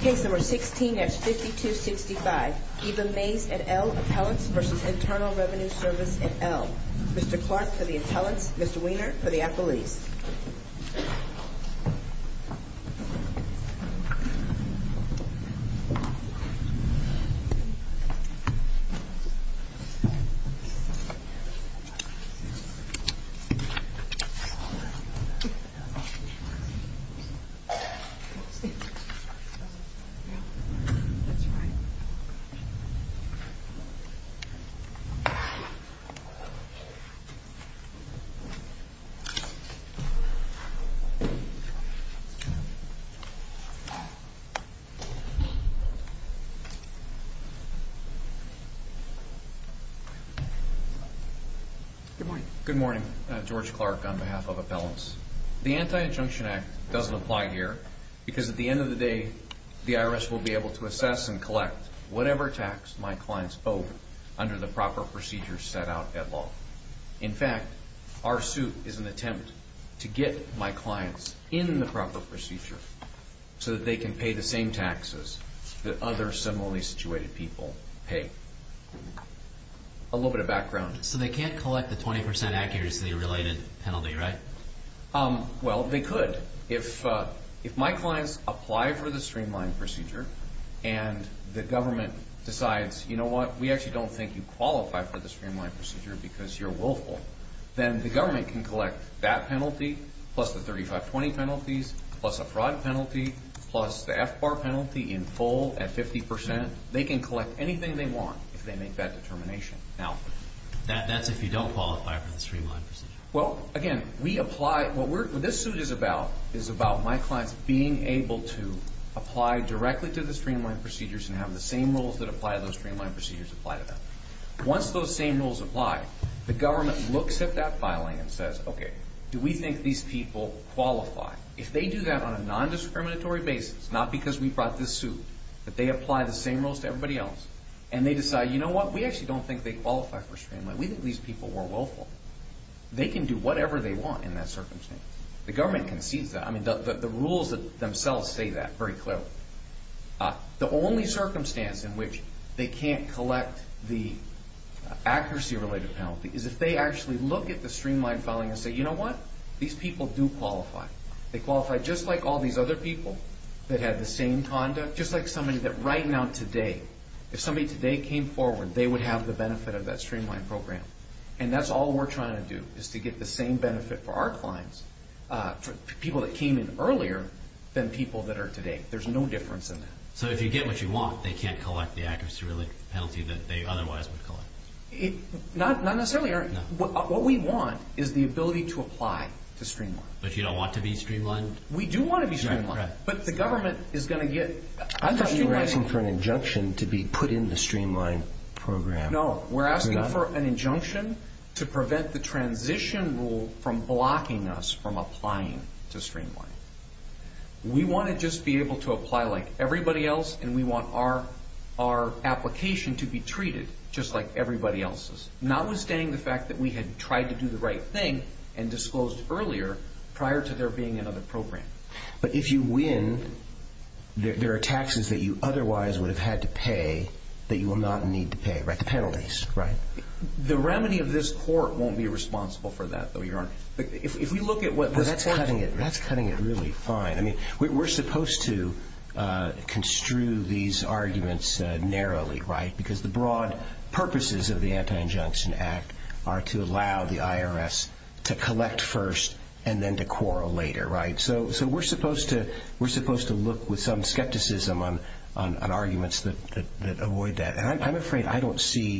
Case number 16-5265, Eva Maze et al. Appellants v. Internal Revenue Service et al. Mr. Clark for the appellants, Mr. Wiener for the appellees. Good morning, George Clark on behalf of appellants. The Anti-Injunction Act doesn't apply here because at the end of the day, the IRS will be able to assess and collect whatever tax my clients owe under the proper procedures set out at law. In fact, our suit is an attempt to get my clients in the proper procedure so that they can pay the same taxes that other similarly situated people pay. A little bit of background. So they can't collect the 20% accuracy related penalty, right? Well, they could. If my clients apply for the streamlined procedure and the government decides, you know what, we actually don't think you qualify for the streamlined procedure because you're willful, then the government can collect that penalty plus the 3520 penalties plus a fraud penalty plus the FBAR penalty in full at 50%. They can collect anything they want if they make that determination. Now, that's if you don't qualify for the streamlined procedure. Well, again, we apply – what this suit is about is about my clients being able to apply directly to the streamlined procedures and have the same rules that apply to those streamlined procedures apply to them. Once those same rules apply, the government looks at that filing and says, okay, do we think these people qualify? If they do that on a nondiscriminatory basis, not because we brought this suit, but they apply the same rules to everybody else and they decide, you know what, we actually don't think they qualify for streamlined. We think these people were willful. They can do whatever they want in that circumstance. The government concedes that. I mean, the rules themselves say that very clearly. The only circumstance in which they can't collect the accuracy-related penalty is if they actually look at the streamlined filing and say, you know what, these people do qualify. They qualify just like all these other people that had the same conduct, just like somebody that right now today – if somebody today came forward, they would have the benefit of that streamlined program. And that's all we're trying to do is to get the same benefit for our clients, for people that came in earlier than people that are today. There's no difference in that. So if you get what you want, they can't collect the accuracy-related penalty that they otherwise would collect? Not necessarily, Eric. What we want is the ability to apply to streamlined. But you don't want to be streamlined? We do want to be streamlined. But the government is going to get – I thought you were asking for an injunction to be put in the streamlined program. No, we're asking for an injunction to prevent the transition rule from blocking us from applying to streamlined. We want to just be able to apply like everybody else, and we want our application to be treated just like everybody else's, notwithstanding the fact that we had tried to do the right thing and disclosed earlier prior to there being another program. But if you win, there are taxes that you otherwise would have had to pay that you will not need to pay, right? The penalties, right? The remedy of this court won't be responsible for that, though, Your Honor. That's cutting it really fine. I mean, we're supposed to construe these arguments narrowly, right, because the broad purposes of the Anti-Injunction Act are to allow the IRS to collect first and then to quarrel later, right? So we're supposed to look with some skepticism on arguments that avoid that. And I'm afraid I don't see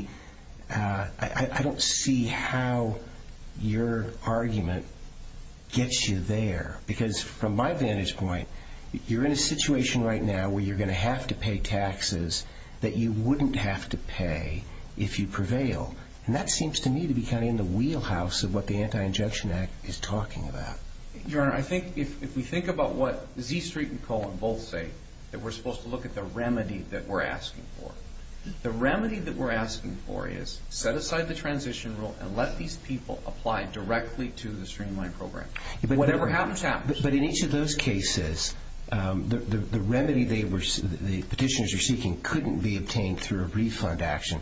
how your argument gets you there, because from my vantage point, you're in a situation right now where you're going to have to pay taxes that you wouldn't have to pay if you prevail. And that seems to me to be kind of in the wheelhouse of what the Anti-Injunction Act is talking about. Your Honor, I think if we think about what Z Street and Cohen both say, that we're supposed to look at the remedy that we're asking for. The remedy that we're asking for is set aside the transition rule and let these people apply directly to the streamlined program. Whatever happens, happens. But in each of those cases, the remedy the petitioners are seeking couldn't be obtained through a refund action.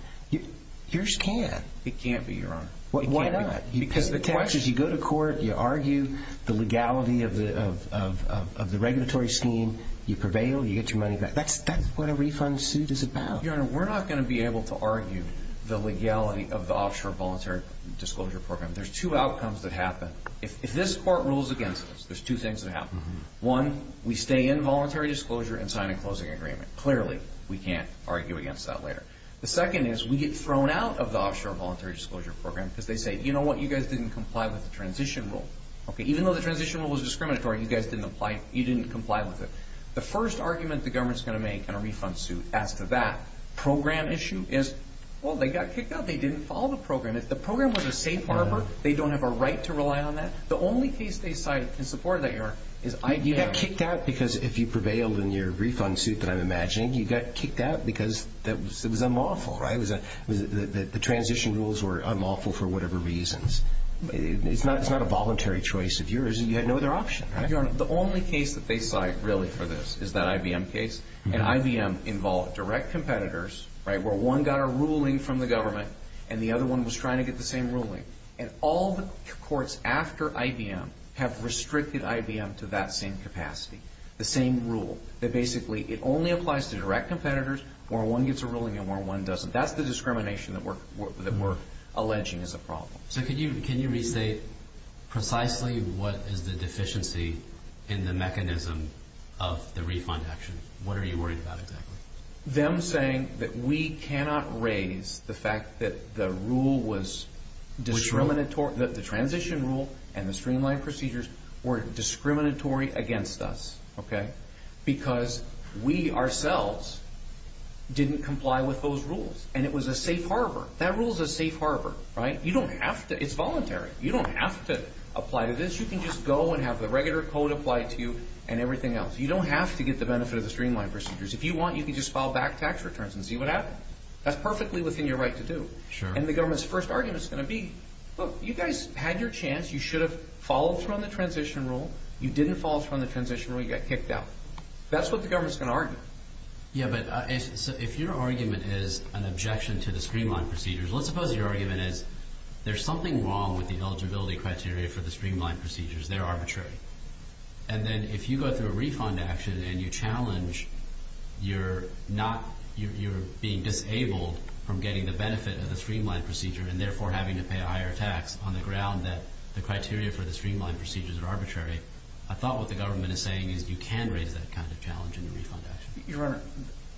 Yours can. It can't be, Your Honor. Why not? Because as you go to court, you argue the legality of the regulatory scheme. You prevail. You get your money back. That's what a refund suit is about. Your Honor, we're not going to be able to argue the legality of the offshore voluntary disclosure program. There's two outcomes that happen. If this court rules against us, there's two things that happen. One, we stay in voluntary disclosure and sign a closing agreement. Clearly, we can't argue against that later. The second is we get thrown out of the offshore voluntary disclosure program because they say, You know what? You guys didn't comply with the transition rule. Even though the transition rule was discriminatory, you guys didn't comply with it. The first argument the government is going to make in a refund suit as to that program issue is, well, they got kicked out. They didn't follow the program. If the program was a safe harbor, they don't have a right to rely on that. The only case they cite in support of that, Your Honor, is IBM. You got kicked out because if you prevailed in your refund suit that I'm imagining, you got kicked out because it was unlawful, right? The transition rules were unlawful for whatever reasons. It's not a voluntary choice of yours. You had no other option, right? Your Honor, the only case that they cite really for this is that IBM case. And IBM involved direct competitors, right, where one got a ruling from the government and the other one was trying to get the same ruling. And all the courts after IBM have restricted IBM to that same capacity, the same rule, that basically it only applies to direct competitors where one gets a ruling and one doesn't. That's the discrimination that we're alleging is a problem. So can you restate precisely what is the deficiency in the mechanism of the refund action? What are you worried about exactly? Them saying that we cannot raise the fact that the rule was discriminatory. The transition rule and the streamlined procedures were discriminatory against us, okay? Because we ourselves didn't comply with those rules. And it was a safe harbor. That rule is a safe harbor, right? You don't have to. It's voluntary. You don't have to apply to this. You can just go and have the regular code applied to you and everything else. You don't have to get the benefit of the streamlined procedures. If you want, you can just file back tax returns and see what happens. That's perfectly within your right to do. And the government's first argument is going to be, look, you guys had your chance. You should have followed through on the transition rule. You didn't follow through on the transition rule. You got kicked out. That's what the government's going to argue. Yeah, but if your argument is an objection to the streamlined procedures, let's suppose your argument is there's something wrong with the eligibility criteria for the streamlined procedures. They're arbitrary. And then if you go through a refund action and you challenge you're being disabled from getting the benefit of the streamlined procedure and therefore having to pay a higher tax on the ground that the criteria for the streamlined procedures are arbitrary, I thought what the government is saying is you can raise that kind of challenge in the refund action. Your Honor,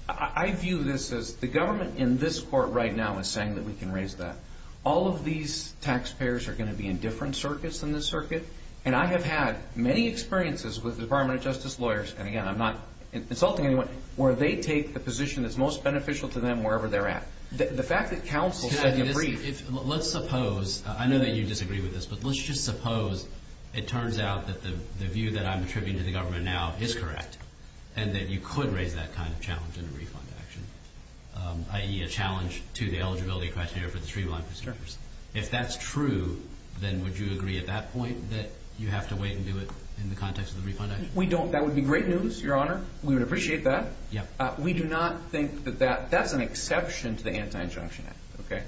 I view this as the government in this court right now is saying that we can raise that. All of these taxpayers are going to be in different circuits than this circuit, and I have had many experiences with the Department of Justice lawyers, and, again, I'm not insulting anyone, where they take the position that's most beneficial to them wherever they're at. The fact that counsel said in a brief. Let's suppose. I know that you disagree with this, but let's just suppose it turns out that the view that I'm attributing to the government now is correct and that you could raise that kind of challenge in a refund action, i.e., a challenge to the eligibility criteria for the streamlined procedures. If that's true, then would you agree at that point that you have to wait and do it in the context of the refund action? We don't. That would be great news, Your Honor. We would appreciate that. Yeah. We do not think that that's an exception to the Anti-Injunction Act. Okay?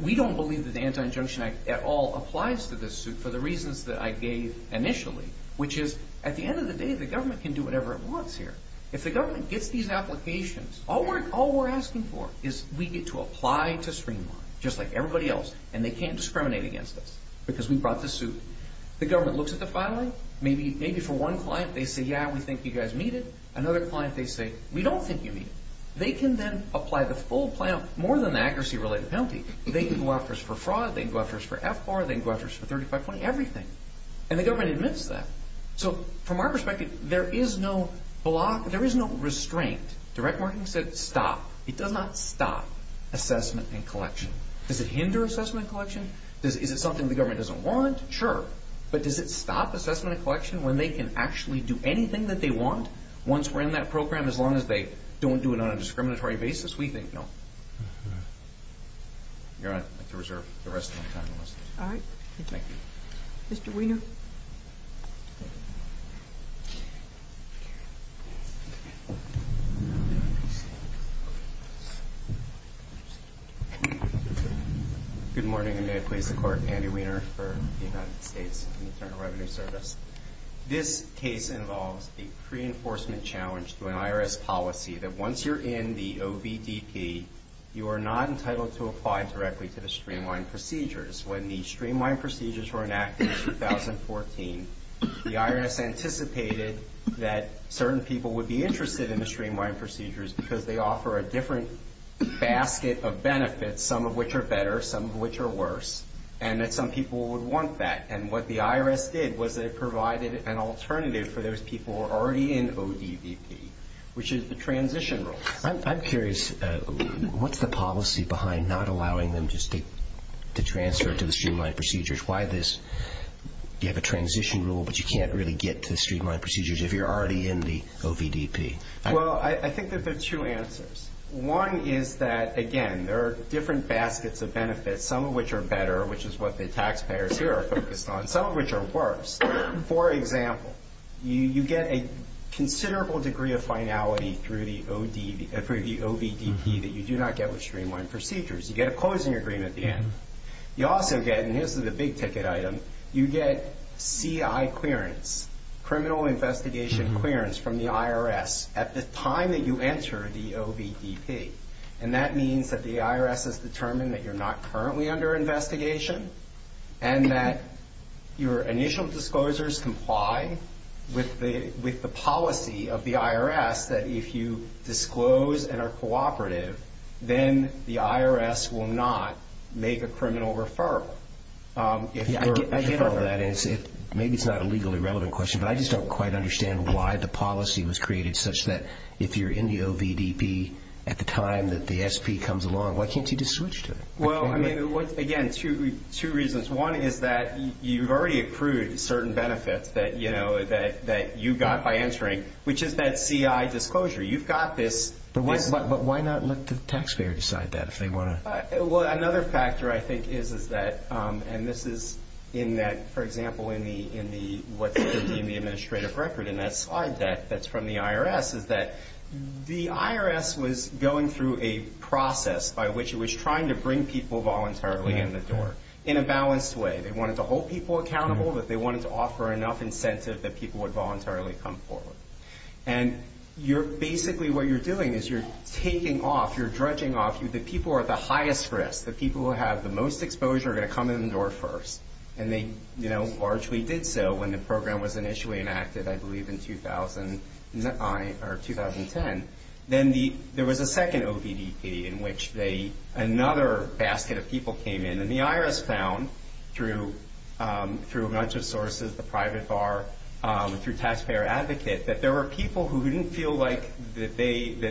We don't believe that the Anti-Injunction Act at all applies to this suit for the reasons that I gave initially, which is at the end of the day, the government can do whatever it wants here. If the government gets these applications, all we're asking for is we get to apply to streamline just like everybody else, and they can't discriminate against us because we brought the suit. The government looks at the filing. Maybe for one client they say, yeah, we think you guys need it. Another client they say, we don't think you need it. They can then apply the full plan more than the accuracy-related penalty. They can go after us for fraud. They can go after us for FBAR. They can go after us for 3520, everything, and the government admits that. So from our perspective, there is no block. There is no restraint. Direct marketing said stop. It does not stop assessment and collection. Does it hinder assessment and collection? Is it something the government doesn't want? Sure. But does it stop assessment and collection when they can actually do anything that they want once we're in that program as long as they don't do it on a discriminatory basis? We think no. All right. I'd like to reserve the rest of my time. All right. Thank you. Mr. Weiner. Thank you. Good morning, and may it please the Court. Andy Weiner for the United States Internal Revenue Service. This case involves a pre-enforcement challenge to an IRS policy that once you're in the OBDP, you are not entitled to apply directly to the streamlined procedures. When the streamlined procedures were enacted in 2014, the IRS anticipated that certain people would be interested in the streamlined procedures because they offer a different basket of benefits, some of which are better, some of which are worse, and that some people would want that. And what the IRS did was they provided an alternative for those people who were already in OBDP, which is the transition rule. I'm curious. What's the policy behind not allowing them to transfer to the streamlined procedures? Why this? You have a transition rule, but you can't really get to the streamlined procedures if you're already in the OBDP. Well, I think that there are two answers. One is that, again, there are different baskets of benefits, some of which are better, which is what the taxpayers here are focused on, some of which are worse. For example, you get a considerable degree of finality through the OBDP that you do not get with streamlined procedures. You get a closing agreement at the end. You also get, and this is a big-ticket item, you get CI clearance, criminal investigation clearance from the IRS at the time that you enter the OBDP. And that means that the IRS has determined that you're not currently under investigation and that your initial disclosures comply with the policy of the IRS that if you disclose and are cooperative, then the IRS will not make a criminal referral. I get where that is. Maybe it's not a legally relevant question, but I just don't quite understand why the policy was created such that if you're in the OBDP at the time that the SP comes along, why can't you just switch to it? Well, I mean, again, two reasons. One is that you've already accrued certain benefits that you got by entering, which is that CI disclosure. You've got this. But why not let the taxpayer decide that if they want to? Well, another factor I think is that, and this is in that, for example, in what's in the administrative record in that slide that's from the IRS, is that the IRS was going through a process by which it was trying to bring people voluntarily in the door in a balanced way. They wanted to hold people accountable, but they wanted to offer enough incentive that people would voluntarily come forward. And basically what you're doing is you're taking off, you're dredging off. The people who are at the highest risk, the people who have the most exposure, are going to come in the door first. And they largely did so when the program was initially enacted, I believe, in 2009 or 2010. Then there was a second OBDP in which another basket of people came in, and the IRS found through a bunch of sources, the private bar, through Taxpayer Advocate, that there were people who didn't feel like the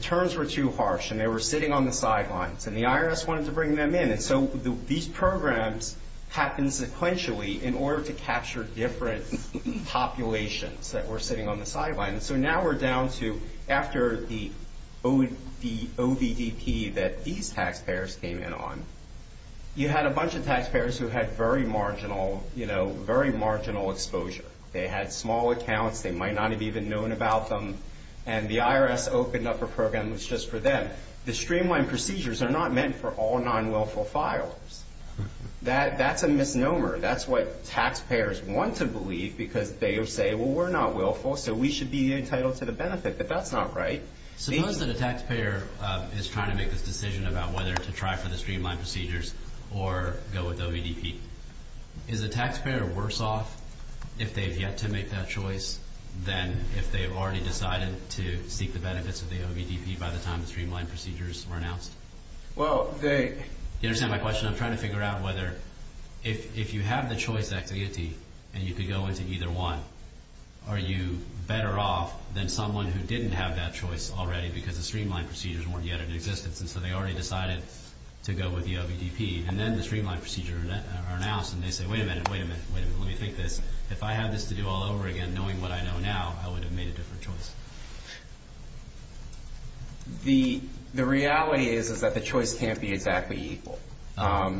terms were too harsh, and they were sitting on the sidelines. And the IRS wanted to bring them in. So these programs happened sequentially in order to capture different populations that were sitting on the sidelines. So now we're down to after the OBDP that these taxpayers came in on, you had a bunch of taxpayers who had very marginal exposure. They had small accounts. They might not have even known about them. And the IRS opened up a program that was just for them. The streamlined procedures are not meant for all non-willful filers. That's a misnomer. That's what taxpayers want to believe because they say, well, we're not willful, so we should be entitled to the benefit. But that's not right. Suppose that a taxpayer is trying to make this decision about whether to try for the streamlined procedures or go with OBDP. Is the taxpayer worse off if they have yet to make that choice than if they have already decided to seek the benefits of the OBDP by the time the streamlined procedures were announced? You understand my question? I'm trying to figure out whether if you have the choice activity and you could go into either one, are you better off than someone who didn't have that choice already because the streamlined procedures weren't yet in existence and so they already decided to go with the OBDP. And then the streamlined procedures are announced and they say, wait a minute, wait a minute, wait a minute, let me think this. If I had this to do all over again, knowing what I know now, I would have made a different choice. The reality is that the choice can't be exactly equal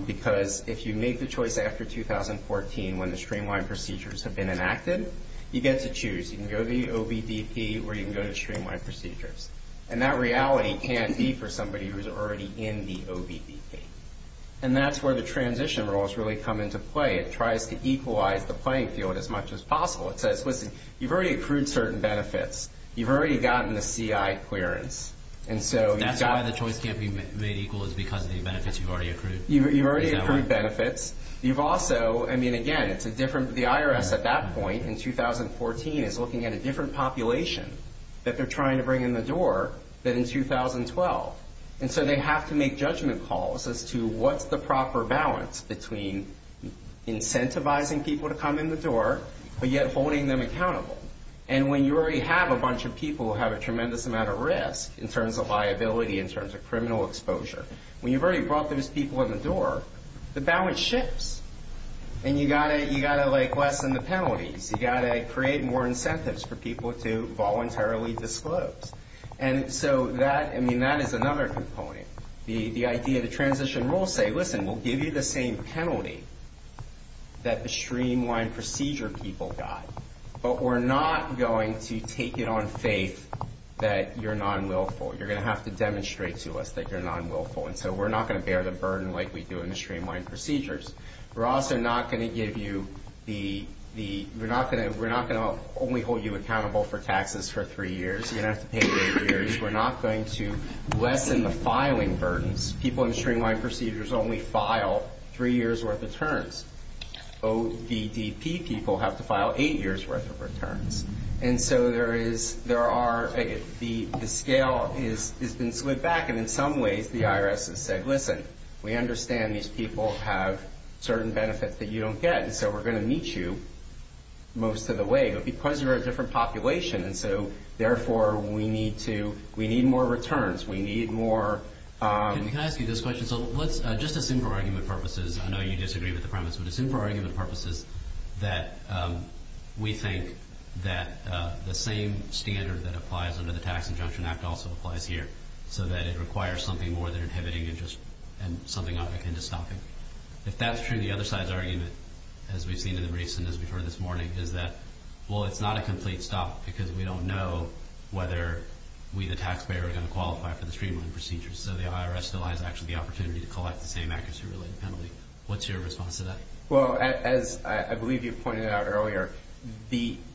because if you make the choice after 2014 when the streamlined procedures have been enacted, you get to choose. You can go to the OBDP or you can go to streamlined procedures. And that reality can't be for somebody who's already in the OBDP. And that's where the transition roles really come into play. It tries to equalize the playing field as much as possible. It says, listen, you've already accrued certain benefits. You've already gotten the CI clearance. That's why the choice can't be made equal is because of the benefits you've already accrued? You've already accrued benefits. You've also, I mean, again, it's a different, the IRS at that point in 2014 is looking at a different population that they're trying to bring in the door than in 2012. And so they have to make judgment calls as to what's the proper balance between incentivizing people to come in the door but yet holding them accountable. And when you already have a bunch of people who have a tremendous amount of risk in terms of liability, in terms of criminal exposure, when you've already brought those people in the door, the balance shifts. And you've got to lessen the penalties. You've got to create more incentives for people to voluntarily disclose. And so that, I mean, that is another component. The idea, the transition rules say, listen, we'll give you the same penalty that the streamlined procedure people got, but we're not going to take it on faith that you're non-willful. You're going to have to demonstrate to us that you're non-willful. And so we're not going to bear the burden like we do in the streamlined procedures. We're also not going to give you the, we're not going to only hold you accountable for taxes for 3 years. You're going to have to pay for 8 years. We're not going to lessen the filing burdens. People in the streamlined procedures only file 3 years' worth of returns. OVDP people have to file 8 years' worth of returns. And so there is, there are, the scale has been slid back, and in some ways the IRS has said, listen, we understand these people have certain benefits that you don't get, and so we're going to meet you most of the way. Because you're a different population, and so, therefore, we need to, we need more returns. We need more. Can I ask you this question? So let's, just a simple argument purposes, I know you disagree with the premise, but a simple argument purposes that we think that the same standard that applies under the Tax Injunction Act also applies here, so that it requires something more than inhibiting interest and something akin to stopping. If that's true, the other side's argument, as we've seen in the recent, as we've heard this morning, is that, well, it's not a complete stop, because we don't know whether we, the taxpayer, are going to qualify for the streamlined procedures. So the IRS still has, actually, the opportunity to collect the same accuracy-related penalty. What's your response to that? Well, as I believe you pointed out earlier,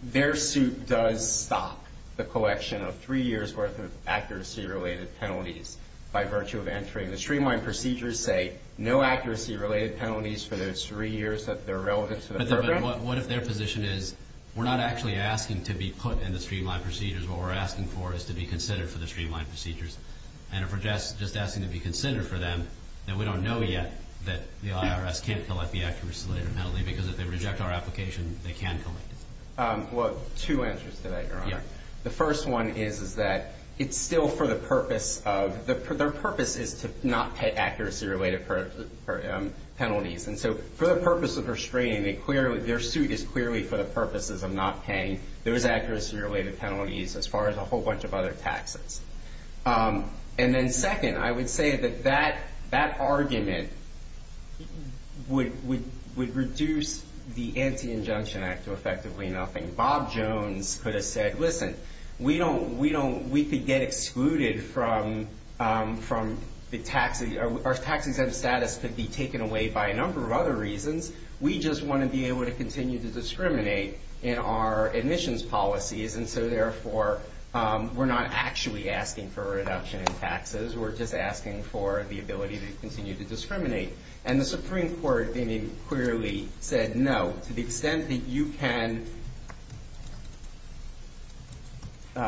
their suit does stop the collection of 3 years' worth of accuracy-related penalties by virtue of entering. The streamlined procedures say no accuracy-related penalties for those 3 years that are relevant to the program. But what if their position is, we're not actually asking to be put in the streamlined procedures. What we're asking for is to be considered for the streamlined procedures. And if we're just asking to be considered for them, then we don't know yet that the IRS can't collect the accuracy-related penalty, because if they reject our application, they can collect it. Well, two answers to that, Your Honor. The first one is that it's still for the purpose of, their purpose is to not pay accuracy-related penalties. And so for the purpose of restraining, their suit is clearly for the purposes of not paying those accuracy-related penalties, as far as a whole bunch of other taxes. And then second, I would say that that argument would reduce the Anti-Injunction Act to effectively nothing. Bob Jones could have said, listen, we could get excluded from the tax, our tax exempt status could be taken away by a number of other reasons. We just want to be able to continue to discriminate in our admissions policies. And so therefore, we're not actually asking for a reduction in taxes. We're just asking for the ability to continue to discriminate. And the Supreme Court clearly said no, to the extent that you can, you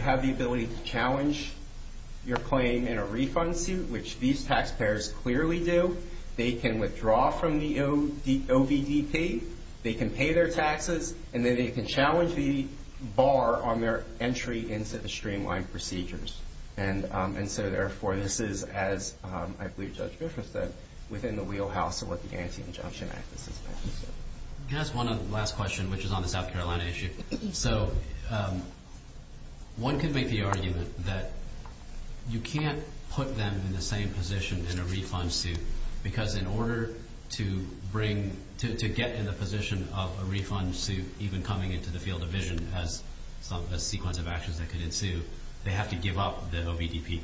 have the ability to challenge your claim in a refund suit, which these taxpayers clearly do, they can withdraw from the OVDP, they can pay their taxes, and then they can challenge the bar on their entry into the streamlined procedures. And so therefore, this is, as I believe Judge Griffith said, within the wheelhouse of what the Anti-Injunction Act is. Can I ask one last question, which is on the South Carolina issue? So one could make the argument that you can't put them in the same position in a refund suit, because in order to get in the position of a refund suit even coming into the field of vision as a sequence of actions that could ensue, they have to give up the OVDP.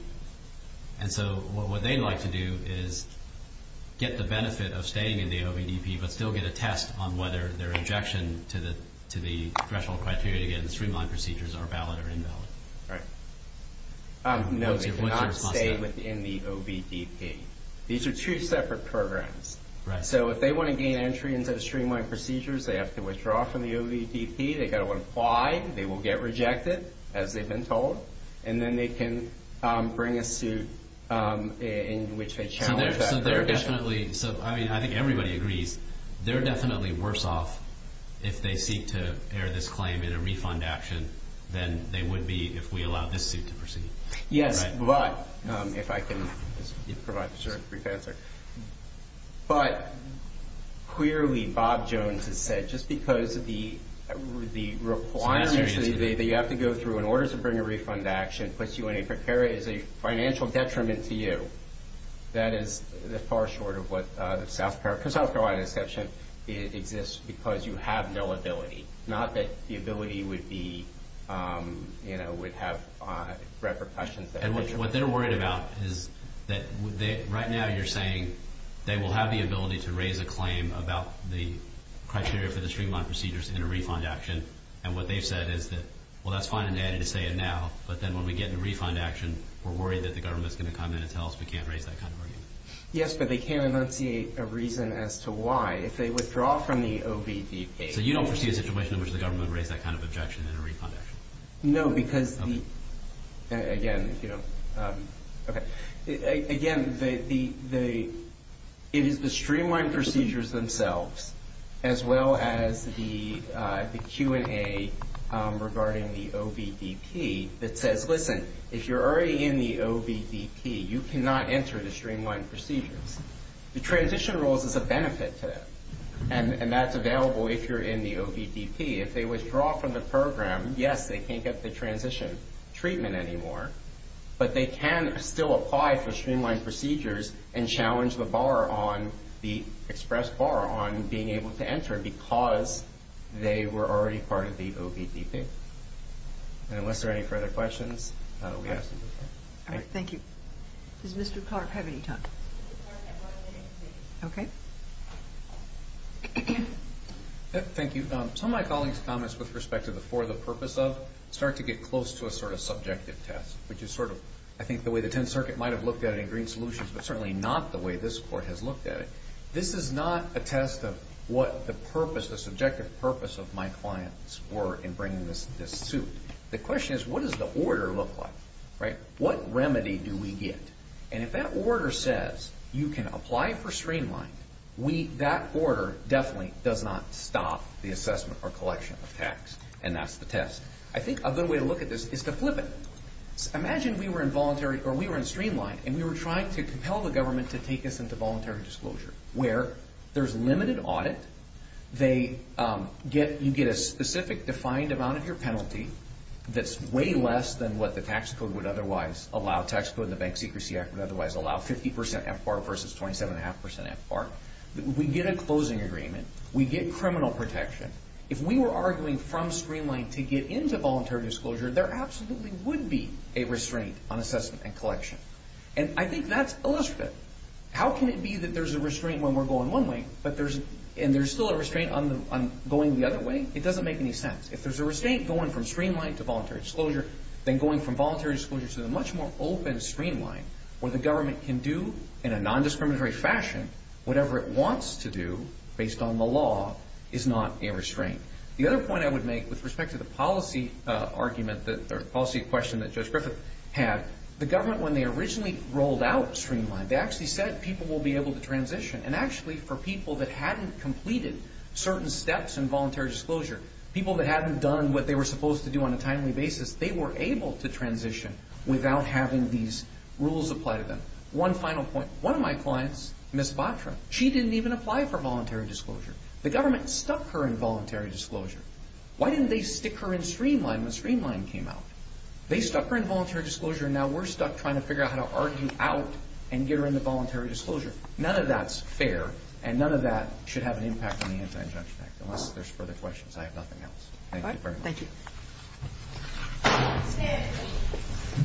And so what they'd like to do is get the benefit of staying in the OVDP, but still get a test on whether their injection to the threshold criteria to get in the streamlined procedures are valid or invalid. Right. No, they cannot stay within the OVDP. These are two separate programs. Right. So if they want to gain entry into the streamlined procedures, they have to withdraw from the OVDP. They've got to apply. They will get rejected, as they've been told. And then they can bring a suit in which they challenge that. So they're definitely, I mean, I think everybody agrees, they're definitely worse off if they seek to air this claim in a refund action than they would be if we allowed this suit to proceed. Yes, but, if I can provide a brief answer. But, clearly, Bob Jones has said, just because of the requirements that you have to go through in order to bring a refund action puts you in a precarious financial detriment to you. That is far short of what the South Carolina exception exists because you have no ability. Not that the ability would be, you know, would have repercussions. And what they're worried about is that right now you're saying they will have the ability to raise a claim about the criteria for the streamlined procedures in a refund action. And what they've said is that, well, that's fine and dandy to say it now, but then when we get in a refund action, we're worried that the government's going to come in and tell us we can't raise that kind of argument. Yes, but they can't enunciate a reason as to why. If they withdraw from the OVDP. So you don't foresee a situation in which the government would raise that kind of objection in a refund action? No, because, again, you know, okay. Again, it is the streamlined procedures themselves as well as the Q&A regarding the OVDP that says, listen, if you're already in the OVDP, you cannot enter the streamlined procedures. The transition rules is a benefit to them. And that's available if you're in the OVDP. If they withdraw from the program, yes, they can't get the transition treatment anymore, but they can still apply for streamlined procedures and challenge the bar on, the express bar on being able to enter because they were already part of the OVDP. And unless there are any further questions, we have to move on. All right, thank you. Does Mr. Clark have any time? Okay. Thank you. Some of my colleagues' comments with respect to the for the purpose of start to get close to a sort of subjective test, which is sort of, I think, the way the 10th Circuit might have looked at it in green solutions, but certainly not the way this court has looked at it. This is not a test of what the purpose, the subjective purpose of my clients were in bringing this suit. The question is, what does the order look like, right? What remedy do we get? And if that order says you can apply for streamlined, that order definitely does not stop the assessment or collection of tax, and that's the test. I think a good way to look at this is to flip it. Imagine we were in voluntary or we were in streamlined and we were trying to compel the government to take us into voluntary disclosure, where there's limited audit. You get a specific defined amount of your penalty that's way less than what the Tax Secrecy Act would otherwise allow, 50% FBAR versus 27.5% FBAR. We get a closing agreement. We get criminal protection. If we were arguing from streamlined to get into voluntary disclosure, there absolutely would be a restraint on assessment and collection. And I think that's illustrative. How can it be that there's a restraint when we're going one way and there's still a restraint on going the other way? It doesn't make any sense. If there's a restraint going from streamlined to voluntary disclosure, then going from voluntary disclosure to the much more open streamlined where the government can do in a nondiscriminatory fashion whatever it wants to do based on the law is not a restraint. The other point I would make with respect to the policy question that Judge Griffith had, the government, when they originally rolled out streamlined, they actually said people will be able to transition, and actually for people that hadn't completed certain steps in voluntary disclosure, people that hadn't done what they were supposed to do on a timely basis, they were able to transition without having these rules apply to them. One final point. One of my clients, Ms. Batra, she didn't even apply for voluntary disclosure. The government stuck her in voluntary disclosure. Why didn't they stick her in streamlined when streamlined came out? They stuck her in voluntary disclosure, and now we're stuck trying to figure out how to argue out and get her into voluntary disclosure. None of that's fair, and none of that should have an impact on the Anti-Injunction Act, unless there's further questions. I have nothing else. Thank you very much. Thank you.